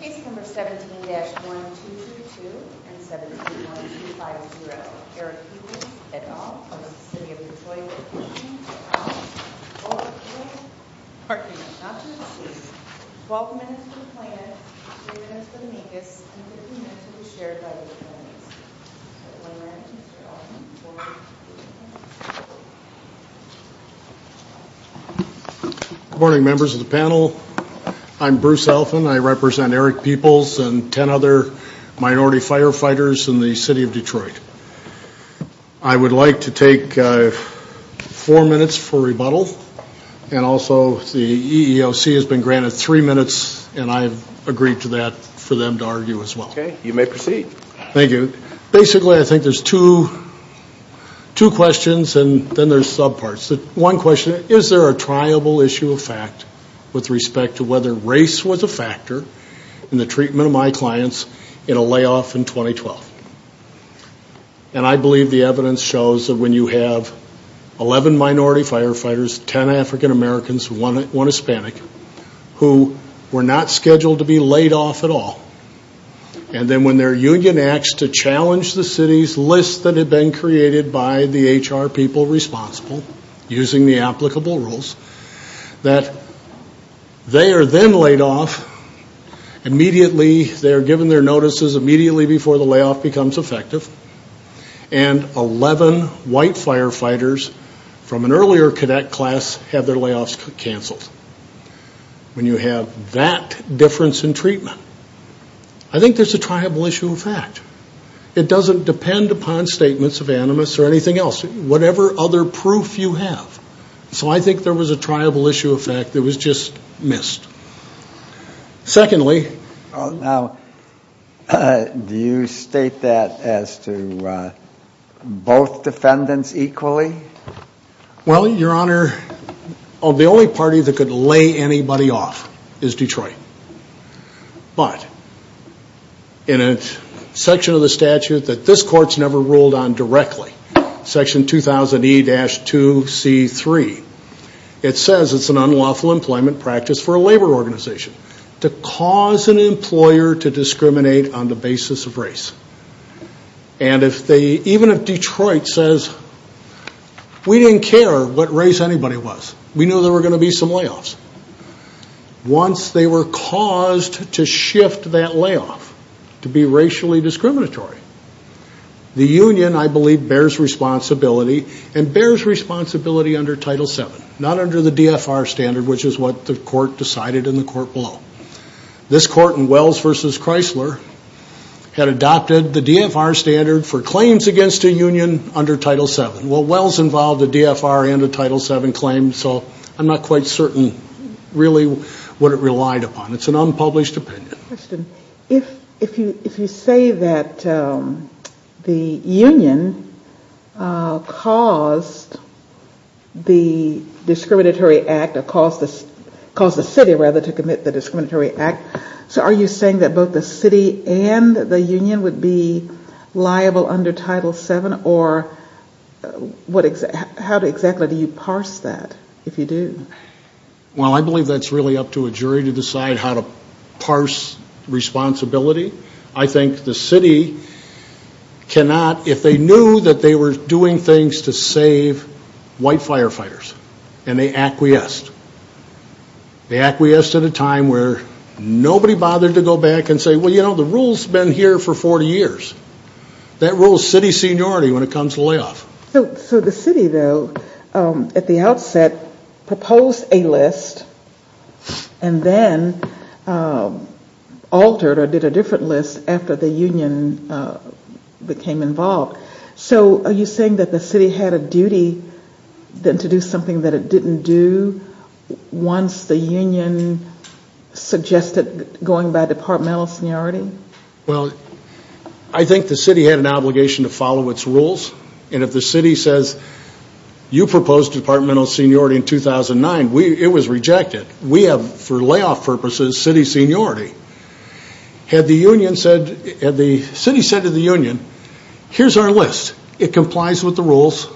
Case number 17-1232 and 17-1250 Erick Peeples v. City of Detroit Good morning, members of the panel. I'm Bruce Elfin. I represent Erick Peeples and 10 other for rebuttal and also the EEOC has been granted three minutes and I've agreed to that for them to argue as well. Okay, you may proceed. Thank you. Basically, I think there's two questions and then there's subparts. One question, is there a triable issue of fact with respect to whether race was a factor in the treatment of my clients in a layoff in 2012? And I believe the evidence shows that when you have 11 minority firefighters, 10 African-Americans, one Hispanic, who were not scheduled to be laid off at all, and then when their union acts to challenge the city's list that had been created by the HR people responsible, using the applicable rules, that they are then laid off immediately, they are given their notices immediately before the layoff becomes effective, and 11 white firefighters from an earlier cadet class have their layoffs canceled. When you have that difference in treatment, I think there's a triable issue of fact. It doesn't depend upon statements of animus or anything else. Whatever other proof you have. So I think there was a triable issue of fact that was just missed. Secondly... Now, do you state that as to both defendants equally? Well, Your Honor, the only party that could lay anybody off is Detroit. But in a section of the statute that this Court's never ruled on directly, Section 2000E-2C3, it says it's an unlawful employment practice for a labor organization to cause an employer to discriminate on the basis of race. And even if Detroit says, we didn't care what race anybody was. We knew there were going to be some layoffs. Once they were caused to shift that layoff to be racially discriminatory, the union, I believe, bears responsibility, and bears responsibility under Title VII. Not under the DFR standard, which is what the Court decided in the Court below. This Court in Wells v. Chrysler had adopted the DFR standard for claims against a union under Title VII. Well, Wells involved the DFR under Title VII claims, so I'm not quite certain really what it relied upon. It's an unpublished opinion. If you say that the union caused the discriminatory act, or caused the city, rather, to commit the discriminatory act, so are you saying that both the city and the union would be liable under Title VII, or how exactly do you parse that, if you do? Well, I believe that's really up to a jury to decide how to parse responsibility. I think the city cannot, if they knew that they were doing things to save white firefighters, and they acquiesced. They acquiesced at a time where nobody bothered to go back and say, well, you know, the rule's been here for 40 years. That rule is city seniority when it comes to layoff. So the city, though, at the outset proposed a list, and then altered or did a different list after the union became involved. So are you saying that the city had a duty to do something that it didn't do once the union suggested going by departmental seniority? Well, I think the city had an obligation to follow its rules. And if the city says, you proposed departmental seniority in 2009, it was rejected. We have, for layoff purposes, city seniority. Had the city said to the union, here's our list. It complies with the rules.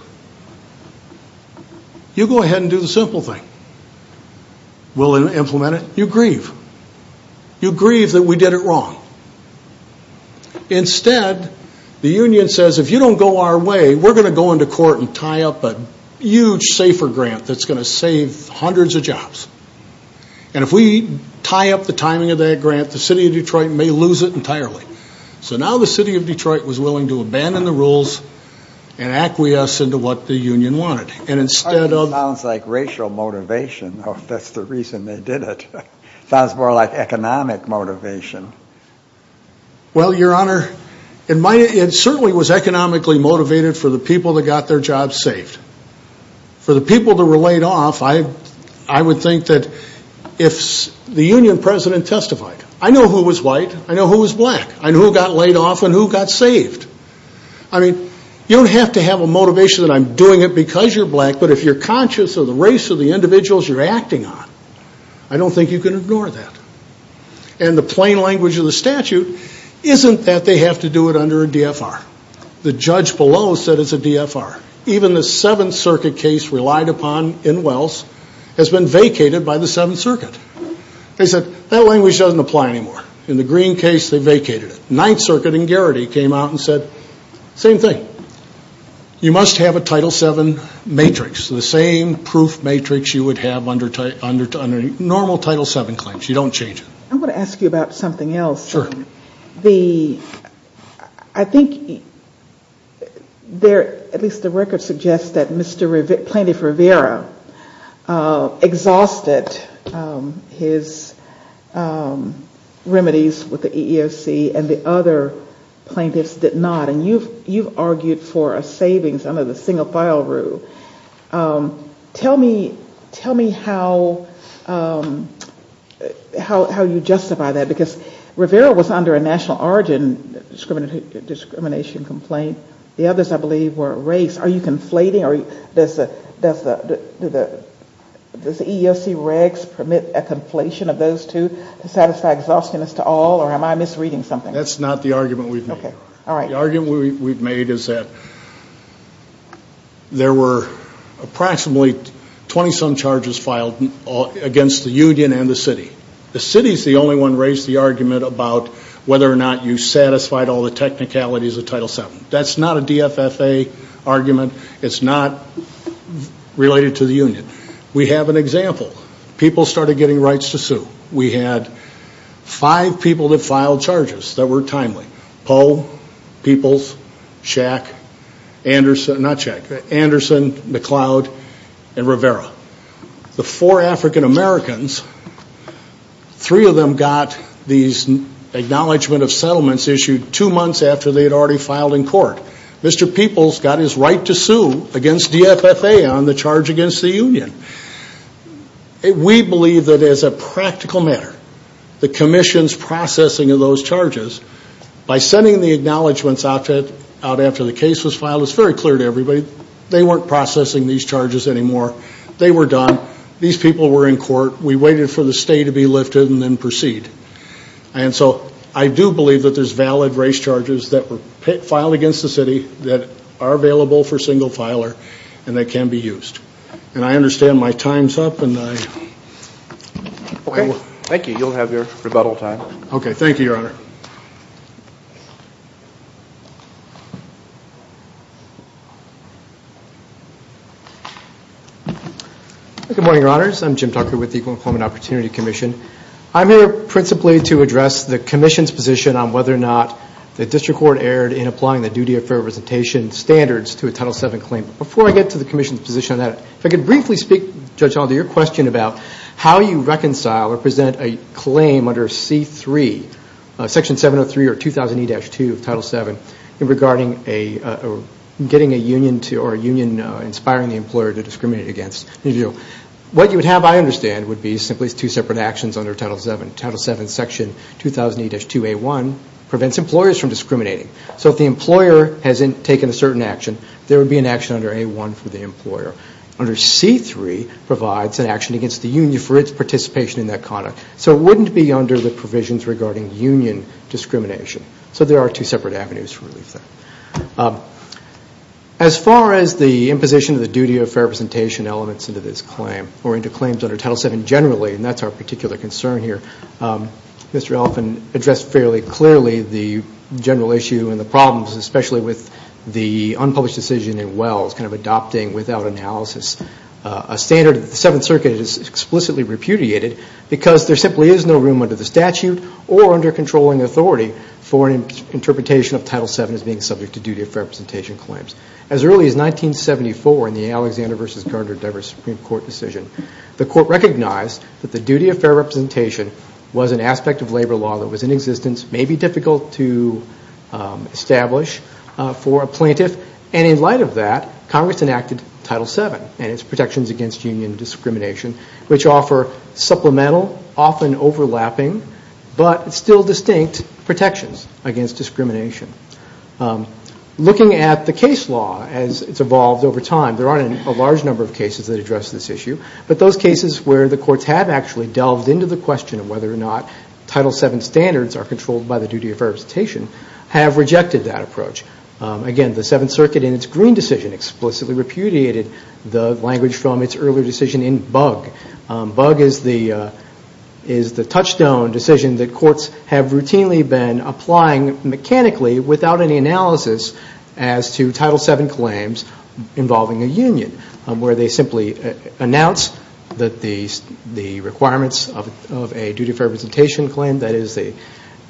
You go ahead and do the simple thing. We'll implement it. You grieve. You grieve that we did it wrong. Instead, the union says, if you don't go our way, we're going to go into court and tie up a huge SAFER grant that's going to save hundreds of jobs. And if we tie up the timing of that grant, the city of Detroit may lose it entirely. So now the city of Detroit was willing to abandon the rules and acquiesce into what the union wanted. Sounds like racial motivation. That's the reason they did it. Sounds more like economic motivation. Well, your honor, it certainly was economically motivated for the people that got their jobs saved. For the people that were laid off, I would think that if the union president testified, I know who was white. I know who was black. I know who got laid off and who got saved. I mean, you don't have to have a motivation that I'm doing it because you're black. But if you're conscious of the race of the individuals you're acting on, I don't think you can ignore that. And the plain language of the statute isn't that they have to do it under a DFR. The judge below said it's a DFR. Even the Seventh Circuit case relied upon in Wells has been vacated by the Seventh Circuit. They said that language doesn't apply anymore. In the Green case, they vacated it. Ninth Circuit and Garrity came out and said same thing. You must have a Title VII matrix, the same proof matrix you would have under normal Title VII claims. You don't change it. I want to ask you about something else. Sure. I think at least the record suggests that Mr. Plaintiff Rivera exhausted his remedies with the EEOC and the other plaintiffs did not. And you've argued for a savings under the single file rule. Tell me how you justify that because Rivera was under a national origin discrimination complaint. The others, I believe, were race. Are you conflating or does the EEOC regs permit a conflation of those two to satisfy exhaustion as to all or am I misreading something? That's not the argument we've made. The argument we've made is that there were approximately 20-some charges filed against the union and the city. The city is the only one to raise the argument about whether or not you satisfied all the technicalities of Title VII. That's not a DFFA argument. It's not related to the union. We have an example. People started getting rights to sue. We had five people that filed charges that were timely. Poe, Peoples, Shack, Anderson, McLeod, and Rivera. The four African-Americans, three of them got these acknowledgment of settlements issued two months after they had already filed in court. Mr. Peoples got his right to sue against DFFA on the charge against the union. We believe that as a practical matter, the commission's processing of those charges, by sending the acknowledgments out after the case was filed, it's very clear to everybody, they weren't processing these charges anymore. They were done. These people were in court. We waited for the state to be lifted and then proceed. And so I do believe that there's valid race charges that were filed against the city that are available for single filer and that can be used. And I understand my time's up. Thank you. You'll have your rebuttal time. Okay. Thank you, Your Honor. Good morning, Your Honors. I'm Jim Tucker with the Equal Employment Opportunity Commission. I'm here principally to address the commission's position on whether or not the district court erred in applying the duty of fair representation standards to a Title VII claim. Before I get to the commission's position on that, if I could briefly speak, Judge Alder, to your question about how you reconcile or present a claim under C-3, Section 703 or 2000E-2 of Title VII, regarding getting a union or a union inspiring the employer to discriminate against. What you would have, I understand, would be simply two separate actions under Title VII. Title VII, Section 2000E-2A1 prevents employers from discriminating. So if the employer has taken a certain action, there would be an action under A-1 for the employer. Under C-3 provides an action against the union for its participation in that conduct. So it wouldn't be under the provisions regarding union discrimination. So there are two separate avenues for relief there. As far as the imposition of the duty of fair representation elements into this claim or into claims under Title VII generally, and that's our particular concern here, Mr. Elephant addressed fairly clearly the general issue and the problems, especially with the unpublished decision in Wells kind of adopting without analysis a standard that the Seventh Circuit has explicitly repudiated because there simply is no room under the statute or under controlling authority for an interpretation of Title VII as being subject to duty of fair representation claims. As early as 1974 in the Alexander v. Gardner-Dever Supreme Court decision, the court recognized that the duty of fair representation was an aspect of labor law that was in existence, maybe difficult to establish for a plaintiff. And in light of that, Congress enacted Title VII and its protections against union discrimination, which offer supplemental, often overlapping, but still distinct protections against discrimination. Looking at the case law as it's evolved over time, there aren't a large number of cases that address this issue, but those cases where the courts have actually delved into the question of whether or not Title VII standards are controlled by the duty of fair representation have rejected that approach. Again, the Seventh Circuit in its Green decision explicitly repudiated the language from its earlier decision in Bug. Bug is the touchstone decision that courts have routinely been applying mechanically without any analysis as to Title VII claims involving a union, where they simply announce that the requirements of a duty of fair representation claim, that is a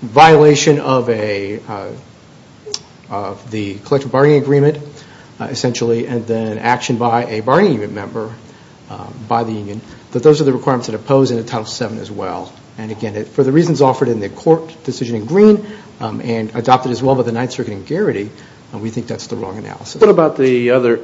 violation of the collective bargaining agreement, essentially, and then an action by a bargaining member by the union, that those are the requirements that oppose Title VII as well. And again, for the reasons offered in the court decision in Green and adopted as well by the Ninth Circuit in Garrity, we think that's the wrong analysis. What about the other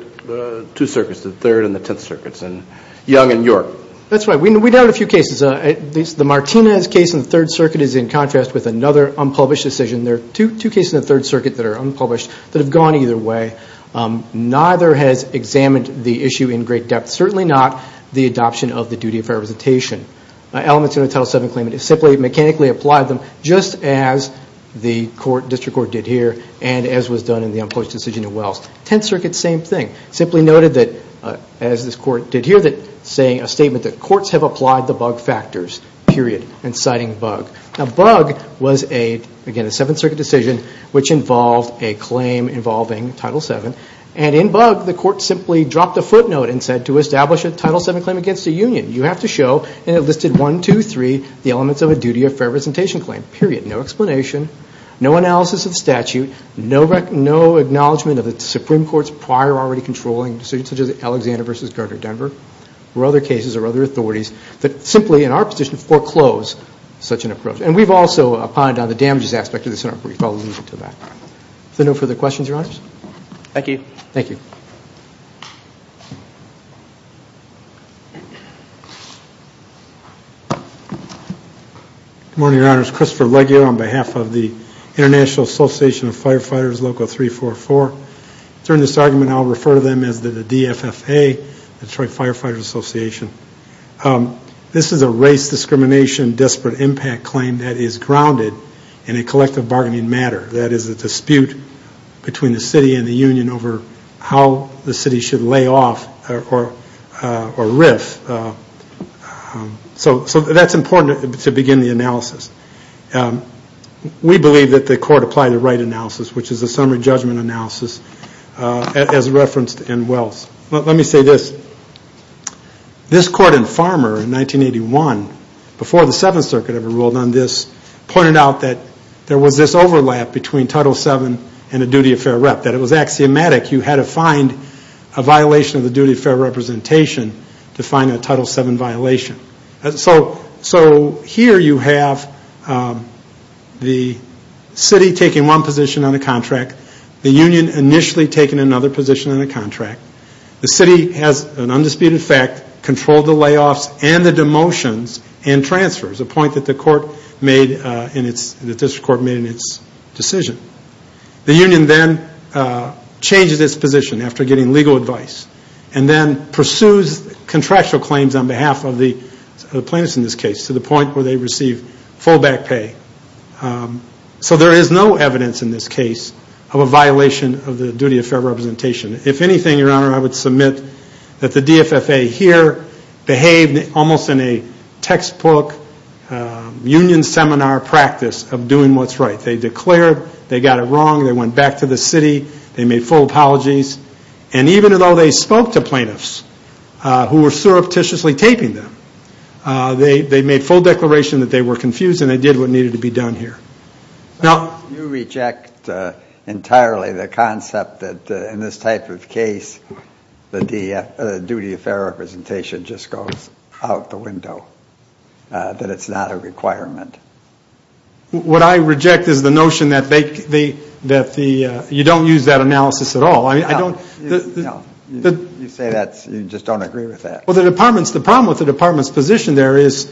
two circuits, the Third and the Tenth Circuits, and Young and York? That's right. We doubt a few cases. The Martinez case in the Third Circuit is in contrast with another unpublished decision. There are two cases in the Third Circuit that are unpublished that have gone either way. Neither has examined the issue in great depth, certainly not the adoption of the duty of fair representation. Elements in a Title VII claim, it's simply mechanically applied them just as the district court did here and as was done in the unpublished decision in Wells. Tenth Circuit, same thing. Simply noted that, as this court did here, saying a statement that courts have applied the bug factors, period, and citing bug. Now bug was, again, a Seventh Circuit decision which involved a claim involving Title VII, and in bug the court simply dropped a footnote and said to establish a Title VII claim against a union, you have to show, and it listed one, two, three, the elements of a duty of fair representation claim, period. No explanation, no analysis of the statute, no acknowledgment of the Supreme Court's prior already controlling decisions such as Alexander v. Gardner Denver or other cases or other authorities that simply, in our position, foreclose such an approach. And we've also pointed out the damages aspect of this in our brief. I'll leave it to that. Is there no further questions, Your Honors? Thank you. Thank you. Good morning, Your Honors. Christopher Legge here on behalf of the International Association of Firefighters, Local 344. During this argument, I'll refer to them as the DFFA, Detroit Firefighters Association. This is a race discrimination, desperate impact claim that is grounded in a collective bargaining matter. That is a dispute between the city and the union over how the city should lay off or riff. So that's important to begin the analysis. We believe that the court applied the right analysis, which is a summary judgment analysis as referenced in Wells. Let me say this. This court in Farmer in 1981, before the Seventh Circuit ever ruled on this, pointed out that there was this overlap between Title VII and a duty of fair rep, that it was axiomatic. You had to find a violation of the duty of fair representation to find a Title VII violation. So here you have the city taking one position on a contract, the union initially taking another position on a contract. The city has an undisputed fact, controlled the layoffs and the demotions and transfers, a point that the district court made in its decision. The union then changes its position after getting legal advice, and then pursues contractual claims on behalf of the plaintiffs in this case to the point where they receive full back pay. So there is no evidence in this case of a violation of the duty of fair representation. If anything, Your Honor, I would submit that the DFFA here behaved almost in a textbook union seminar practice of doing what's right. They declared they got it wrong. They went back to the city. They made full apologies. And even though they spoke to plaintiffs who were surreptitiously taping them, they made full declaration that they were confused and they did what needed to be done here. You reject entirely the concept that in this type of case the duty of fair representation just goes out the window, that it's not a requirement. What I reject is the notion that you don't use that analysis at all. You say that, you just don't agree with that. Well, the problem with the department's position there is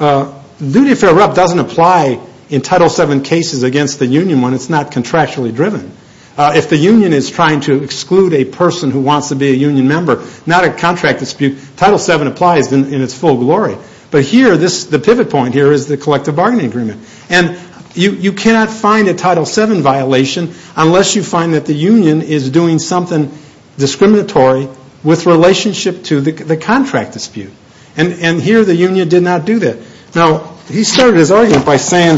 duty of fair rep doesn't apply in Title VII cases against the union when it's not contractually driven. If the union is trying to exclude a person who wants to be a union member, not a contract dispute, Title VII applies in its full glory. But here, the pivot point here is the collective bargaining agreement. And you cannot find a Title VII violation unless you find that the union is doing something discriminatory with relationship to the contract dispute. And here, the union did not do that. Now, he started his argument by saying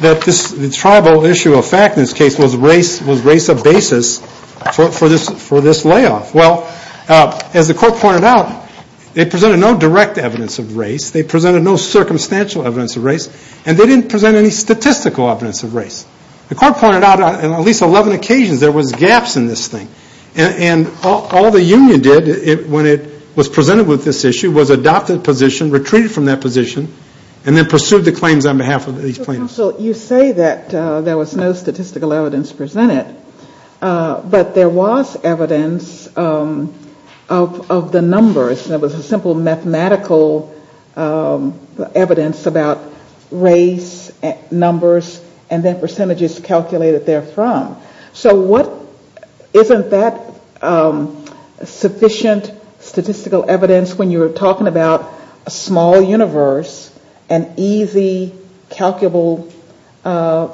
that the tribal issue of fact in this case was race of basis for this layoff. Well, as the court pointed out, they presented no direct evidence of race. They presented no circumstantial evidence of race. And they didn't present any statistical evidence of race. The court pointed out on at least 11 occasions there was gaps in this thing. And all the union did when it was presented with this issue was adopt a position, retreated from that position, and then pursued the claims on behalf of these plaintiffs. So, counsel, you say that there was no statistical evidence presented. But there was evidence of the numbers. There was a simple mathematical evidence about race, numbers, and their percentages calculated therefrom. So what isn't that sufficient statistical evidence when you're talking about a small universe and easy, calculable, I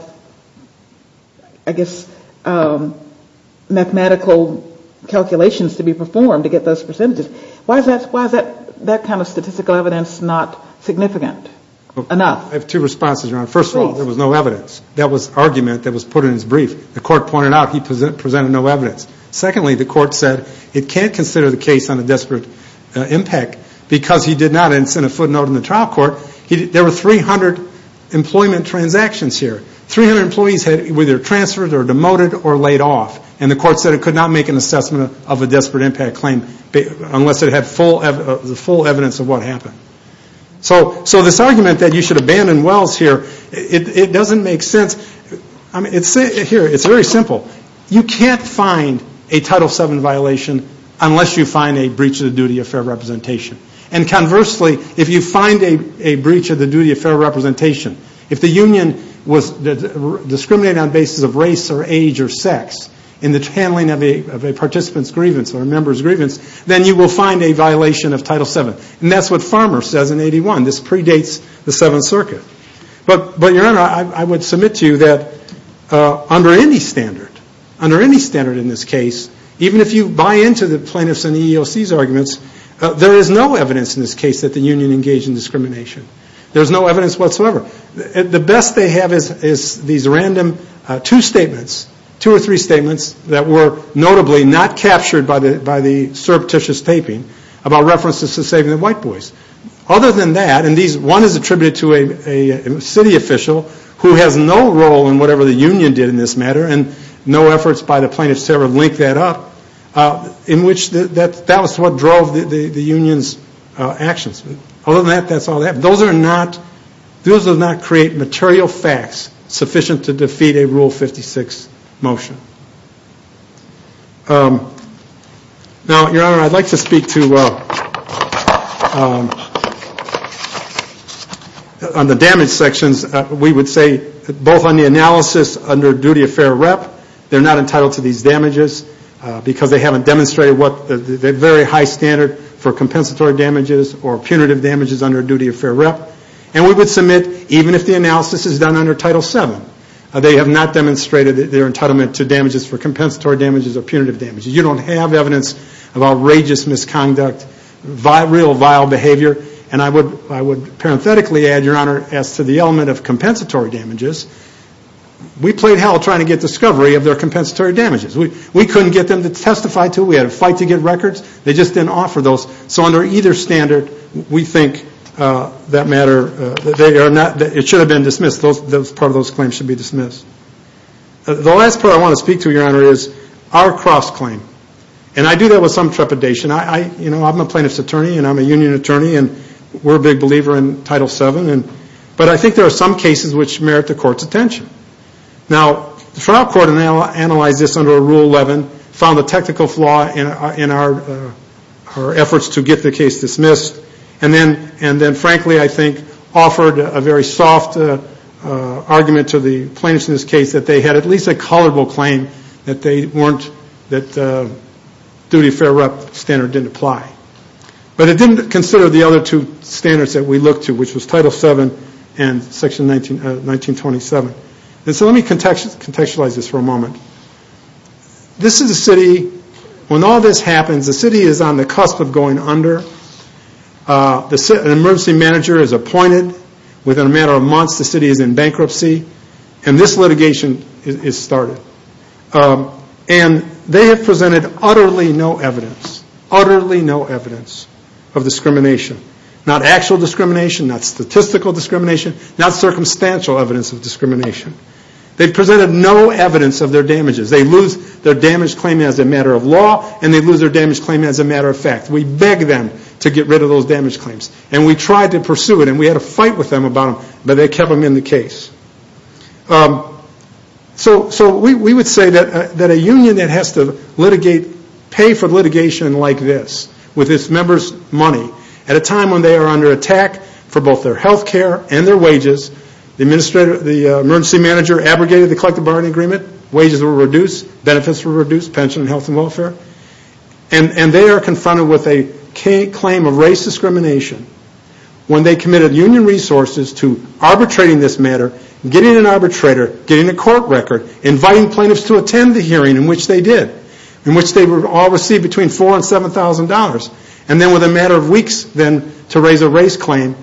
guess, mathematical calculations to be performed to get those percentages? Why is that kind of statistical evidence not significant enough? I have two responses, Your Honor. First of all, there was no evidence. That was the argument that was put in his brief. The court pointed out he presented no evidence. Secondly, the court said it can't consider the case on a desperate impact because he did not. And it's in a footnote in the trial court. There were 300 employment transactions here. 300 employees were either transferred or demoted or laid off. And the court said it could not make an assessment of a desperate impact claim unless it had the full evidence of what happened. So this argument that you should abandon Wells here, it doesn't make sense. Here, it's very simple. You can't find a Title VII violation unless you find a breach of the duty of fair representation. And conversely, if you find a breach of the duty of fair representation, if the union was discriminated on the basis of race or age or sex in the handling of a participant's grievance or a member's grievance, then you will find a violation of Title VII. And that's what Farmer says in 81. This predates the Seventh Circuit. But, Your Honor, I would submit to you that under any standard, under any standard in this case, even if you buy into the plaintiffs' and the EEOC's arguments, there is no evidence in this case that the union engaged in discrimination. There's no evidence whatsoever. The best they have is these random two statements, two or three statements, that were notably not captured by the surreptitious taping about references to saving the white boys. Other than that, and one is attributed to a city official who has no role in whatever the union did in this matter and no efforts by the plaintiffs to ever link that up, in which that was what drove the union's actions. Other than that, that's all they have. And those are not, those do not create material facts sufficient to defeat a Rule 56 motion. Now, Your Honor, I'd like to speak to on the damage sections. We would say both on the analysis under duty of fair rep, they're not entitled to these damages because they haven't demonstrated what the very high standard for compensatory damages or punitive damages under duty of fair rep. And we would submit, even if the analysis is done under Title VII, they have not demonstrated their entitlement to damages for compensatory damages or punitive damages. You don't have evidence of outrageous misconduct, real vile behavior. And I would parenthetically add, Your Honor, as to the element of compensatory damages, we played hell trying to get discovery of their compensatory damages. We couldn't get them to testify to it. We had to fight to get records. They just didn't offer those. So under either standard, we think that matter, it should have been dismissed. Part of those claims should be dismissed. The last part I want to speak to, Your Honor, is our cross-claim. And I do that with some trepidation. I'm a plaintiff's attorney and I'm a union attorney and we're a big believer in Title VII. But I think there are some cases which merit the court's attention. Now, the trial court analyzed this under Rule 11, found the technical flaw in our efforts to get the case dismissed, and then frankly, I think, offered a very soft argument to the plaintiffs in this case that they had at least a colorable claim that the duty of fair rep standard didn't apply. But it didn't consider the other two standards that we looked to, which was Title VII and Section 1927. And so let me contextualize this for a moment. This is a city. When all this happens, the city is on the cusp of going under. An emergency manager is appointed. Within a matter of months, the city is in bankruptcy. And this litigation is started. And they have presented utterly no evidence, utterly no evidence of discrimination. Not actual discrimination, not statistical discrimination, not circumstantial evidence of discrimination. They presented no evidence of their damages. They lose their damage claim as a matter of law and they lose their damage claim as a matter of fact. We begged them to get rid of those damage claims. And we tried to pursue it and we had a fight with them about it, but they kept them in the case. So we would say that a union that has to pay for litigation like this, with its members' money, at a time when they are under attack for both their health care and their wages, the emergency manager abrogated the collective bargaining agreement. Wages were reduced. Benefits were reduced. Pension and health and welfare. And they are confronted with a claim of race discrimination. When they committed union resources to arbitrating this matter, getting an arbitrator, getting a court record, inviting plaintiffs to attend the hearing, in which they did. In which they all received between $4,000 and $7,000. And then within a matter of weeks, then, to raise a race claim.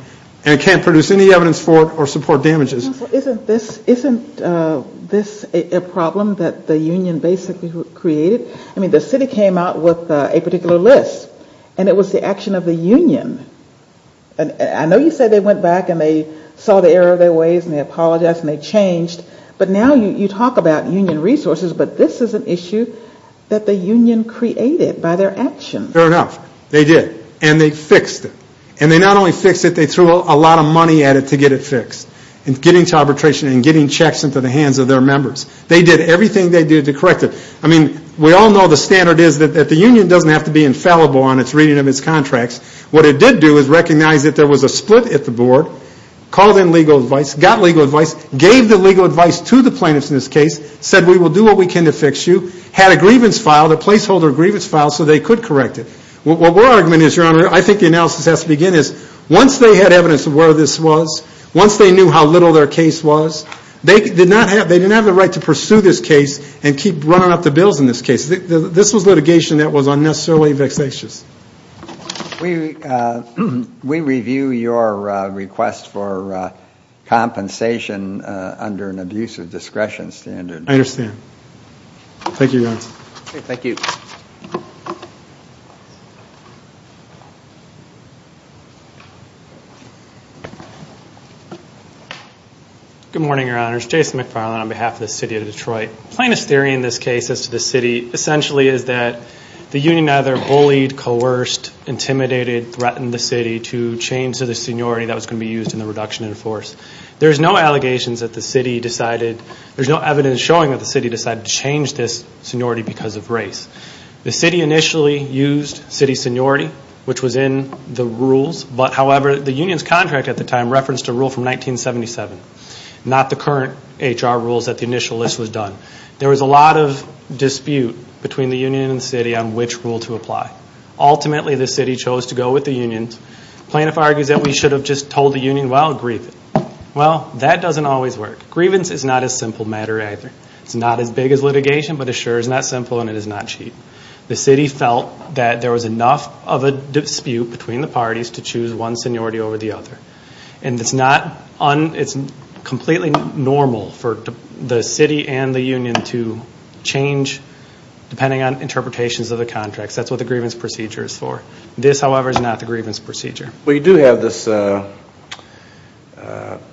And can't produce any evidence for it or support damages. Isn't this a problem that the union basically created? I mean, the city came out with a particular list. And it was the action of the union. I know you said they went back and they saw the error of their ways and they apologized and they changed. But now you talk about union resources, but this is an issue that the union created by their actions. Fair enough. They did. And they fixed it. And they not only fixed it, they threw a lot of money at it to get it fixed. In getting to arbitration and getting checks into the hands of their members. They did everything they did to correct it. I mean, we all know the standard is that the union doesn't have to be infallible on its reading of its contracts. What it did do is recognize that there was a split at the board. Called in legal advice. Got legal advice. Gave the legal advice to the plaintiffs in this case. Said we will do what we can to fix you. Had a grievance filed, a placeholder grievance filed, so they could correct it. What we're arguing is, Your Honor, I think the analysis has to begin. Once they had evidence of where this was, once they knew how little their case was, they didn't have the right to pursue this case and keep running up the bills in this case. This was litigation that was unnecessarily vexatious. We review your request for compensation under an abuse of discretion standard. I understand. Thank you, Your Honor. Thank you. Jason McFarland. Good morning, Your Honors. Jason McFarland on behalf of the city of Detroit. Plaintiff's theory in this case as to the city essentially is that the union either bullied, coerced, intimidated, threatened the city to change to the seniority that was going to be used in the reduction in force. There's no allegations that the city decided, there's no evidence showing that the city decided to change this seniority because of race. The city initially used city seniority, which was in the rules, but, however, the union's contract at the time referenced a rule from 1977, not the current HR rules that the initial list was done. There was a lot of dispute between the union and the city on which rule to apply. Ultimately, the city chose to go with the unions. Plaintiff argues that we should have just told the union, well, grieve it. Well, that doesn't always work. Grievance is not a simple matter either. It's not as big as litigation, but it sure is not simple and it is not cheap. The city felt that there was enough of a dispute between the parties to choose one seniority over the other. It's completely normal for the city and the union to change depending on interpretations of the contracts. That's what the grievance procedure is for. This, however, is not the grievance procedure. We do have this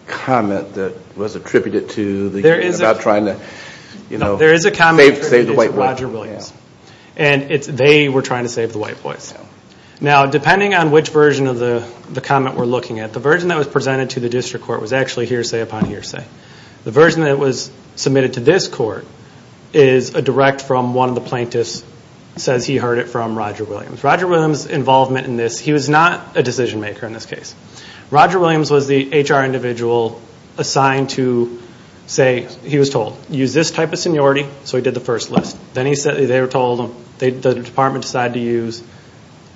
comment that was attributed to the union about trying to save the white boys. There is a comment attributed to Roger Williams. They were trying to save the white boys. Now, depending on which version of the comment we're looking at, the version that was presented to the district court was actually hearsay upon hearsay. The version that was submitted to this court is a direct from one of the plaintiffs, says he heard it from Roger Williams. With Roger Williams' involvement in this, he was not a decision maker in this case. Roger Williams was the HR individual assigned to say, he was told, use this type of seniority. So he did the first list. Then they were told, the department decided to use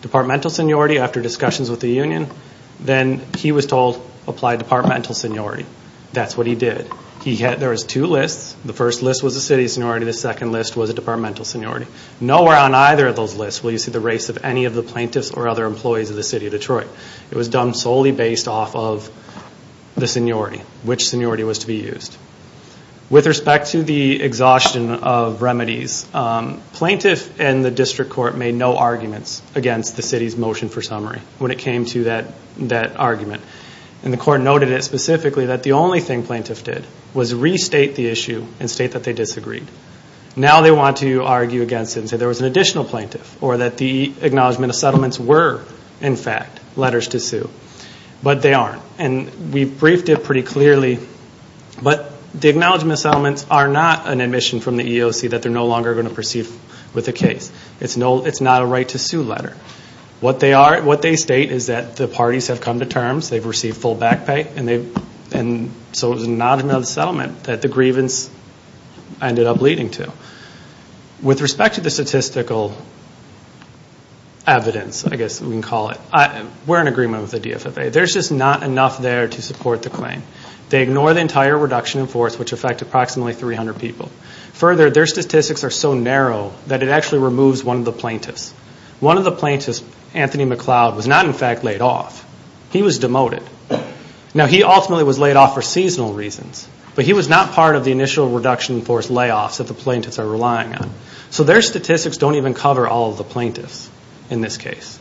departmental seniority after discussions with the union. Then he was told, apply departmental seniority. That's what he did. There was two lists. The first list was a city seniority. The second list was a departmental seniority. Nowhere on either of those lists will you see the race of any of the plaintiffs or other employees of the city of Detroit. It was done solely based off of the seniority, which seniority was to be used. With respect to the exhaustion of remedies, plaintiff and the district court made no arguments against the city's motion for summary when it came to that argument. The court noted it specifically that the only thing plaintiff did was restate the issue and state that they disagreed. Now they want to argue against it and say there was an additional plaintiff or that the acknowledgment of settlements were, in fact, letters to sue, but they aren't. We briefed it pretty clearly, but the acknowledgment of settlements are not an admission from the EEOC that they're no longer going to proceed with the case. It's not a right to sue letter. What they state is that the parties have come to terms, they've received full back pay, and so it was an acknowledgment of the settlement that the grievance ended up leading to. With respect to the statistical evidence, I guess we can call it, we're in agreement with the DFFA. There's just not enough there to support the claim. They ignore the entire reduction in force, which affected approximately 300 people. Further, their statistics are so narrow that it actually removes one of the plaintiffs. One of the plaintiffs, Anthony McLeod, was not, in fact, laid off. He was demoted. Now, he ultimately was laid off for seasonal reasons, but he was not part of the initial reduction in force layoffs that the plaintiffs are relying on. So their statistics don't even cover all of the plaintiffs in this case.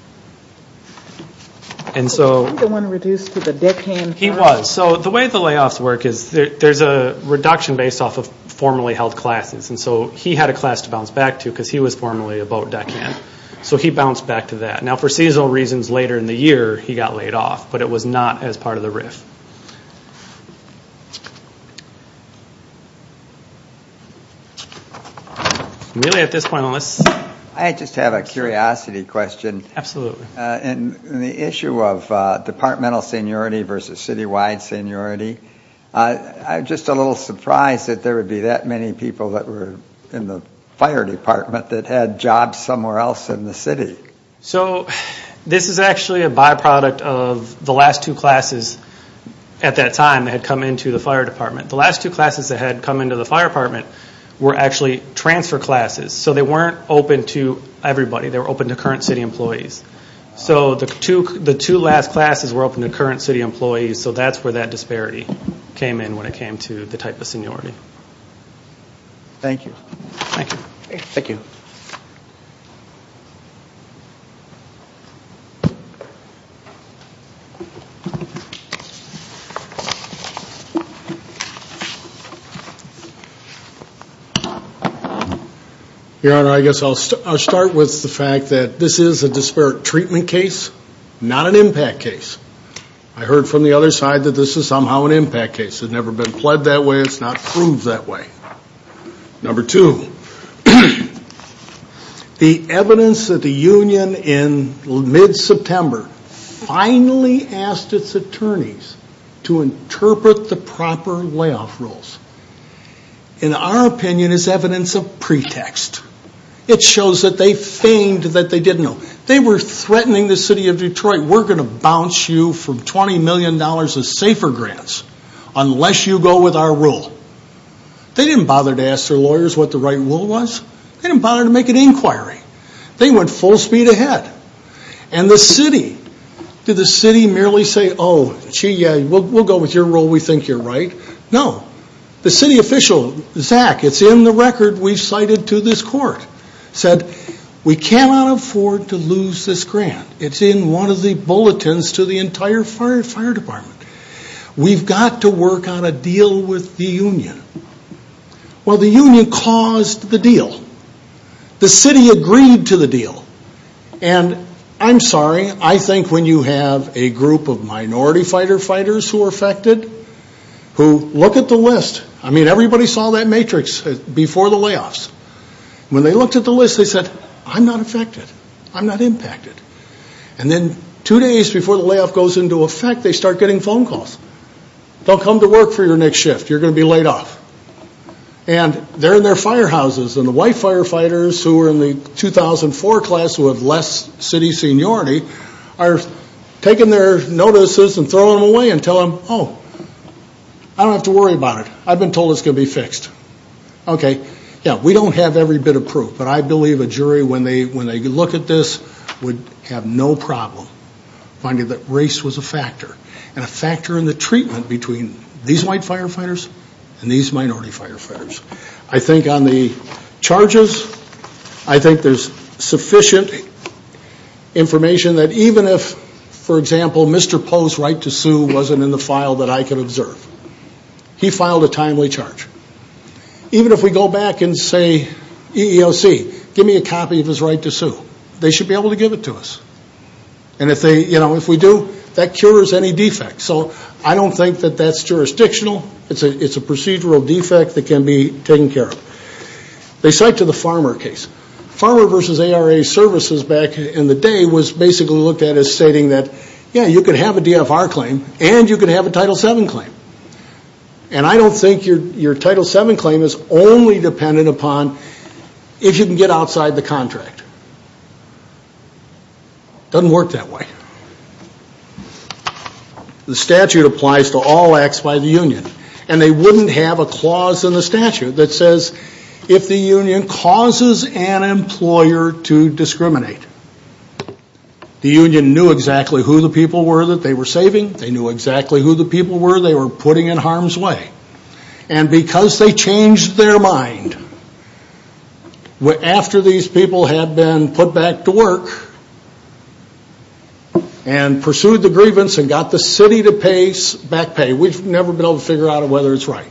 And so he was. So the way the layoffs work is there's a reduction based off of formerly held classes, and so he had a class to bounce back to because he was formerly a boat deckhand. So he bounced back to that. Now, for seasonal reasons, later in the year, he got laid off, but it was not as part of the RIF. Really, at this point, let's- I just have a curiosity question. Absolutely. In the issue of departmental seniority versus citywide seniority, I'm just a little surprised that there would be that many people that were in the fire department that had jobs somewhere else in the city. So this is actually a byproduct of the last two classes at that time that had come into the fire department. The last two classes that had come into the fire department were actually transfer classes, so they weren't open to everybody. They were open to current city employees. So the two last classes were open to current city employees, so that's where that disparity came in when it came to the type of seniority. Thank you. Thank you. Thank you. Your Honor, I guess I'll start with the fact that this is a disparate treatment case, not an impact case. I heard from the other side that this is somehow an impact case. It's never been pled that way. It's not proved that way. Number two, the evidence that the union in mid-September finally asked its attorneys to interpret the proper layoff rules, in our opinion, is evidence of pretext. It shows that they feigned that they didn't know. They said, all right, we're going to bounce you from $20 million of safer grants unless you go with our rule. They didn't bother to ask their lawyers what the right rule was. They didn't bother to make an inquiry. They went full speed ahead. And the city, did the city merely say, oh, gee, yeah, we'll go with your rule. We think you're right. No. The city official, Zach, it's in the record we've cited to this court, said, we cannot afford to lose this grant. It's in one of the bulletins to the entire fire department. We've got to work on a deal with the union. Well, the union caused the deal. The city agreed to the deal. And I'm sorry, I think when you have a group of minority fighter fighters who are affected, who look at the list, I mean, everybody saw that matrix before the layoffs. When they looked at the list, they said, I'm not affected. I'm not impacted. And then two days before the layoff goes into effect, they start getting phone calls. They'll come to work for your next shift. You're going to be laid off. And they're in their firehouses. And the white firefighters who were in the 2004 class who have less city seniority are taking their notices and throwing them away and telling them, oh, I don't have to worry about it. I've been told it's going to be fixed. Okay. Yeah, we don't have every bit of proof. But I believe a jury, when they look at this, would have no problem finding that race was a factor and a factor in the treatment between these white firefighters and these minority firefighters. I think on the charges, I think there's sufficient information that even if, for example, Mr. Poe's right to sue wasn't in the file that I could observe, he filed a timely charge. Even if we go back and say, EEOC, give me a copy of his right to sue, they should be able to give it to us. And if we do, that cures any defects. So I don't think that that's jurisdictional. It's a procedural defect that can be taken care of. They cite to the Farmer case. Farmer versus ARA services back in the day was basically looked at as stating that, yeah, you could have a DFR claim and you could have a Title VII claim. And I don't think your Title VII claim is only dependent upon if you can get outside the contract. It doesn't work that way. The statute applies to all acts by the union. And they wouldn't have a clause in the statute that says, if the union causes an employer to discriminate, the union knew exactly who the people were that they were saving, they knew exactly who the people were they were putting in harm's way. And because they changed their mind after these people had been put back to work and pursued the grievance and got the city to back pay, we've never been able to figure out whether it's right.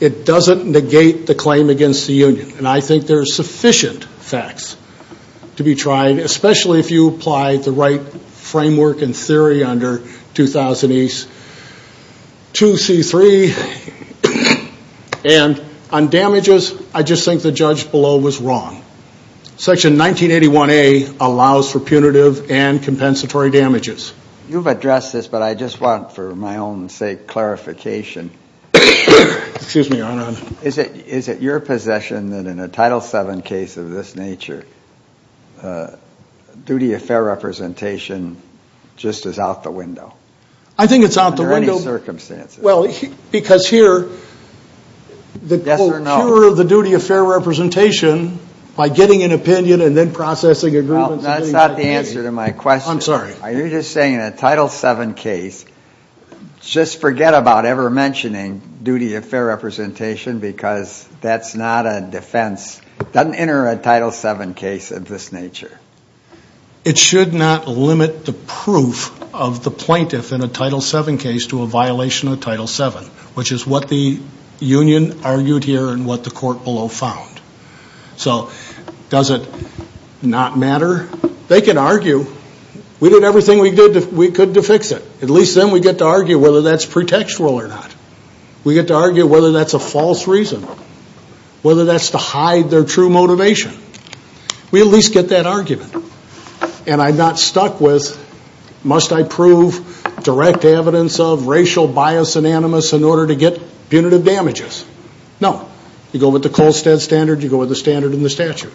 It doesn't negate the claim against the union. And I think there are sufficient facts to be tried, especially if you apply the right framework and theory under 2000A's 2C3. And on damages, I just think the judge below was wrong. Section 1981A allows for punitive and compensatory damages. You've addressed this, but I just want, for my own sake, clarification. Excuse me, Your Honor. Is it your possession that in a Title VII case of this nature, duty of fair representation just is out the window? I think it's out the window. Under any circumstances. Well, because here, the procurer of the duty of fair representation, by getting an opinion and then processing agreements. That's not the answer to my question. I'm sorry. You're just saying in a Title VII case, just forget about ever mentioning duty of fair representation because that's not a defense, doesn't enter a Title VII case of this nature. It should not limit the proof of the plaintiff in a Title VII case to a violation of Title VII, which is what the union argued here and what the court below found. So does it not matter? They can argue. We did everything we could to fix it. At least then we get to argue whether that's pretextual or not. We get to argue whether that's a false reason, whether that's to hide their true motivation. We at least get that argument. And I'm not stuck with must I prove direct evidence of racial bias and animus in order to get punitive damages. No. You go with the Kolstad standard, you go with the standard and the statute.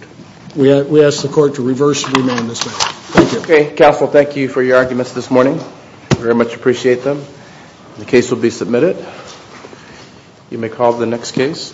We ask the court to reverse and remain in this manner. Thank you. Counsel, thank you for your arguments this morning. Very much appreciate them. The case will be submitted. You may call the next case.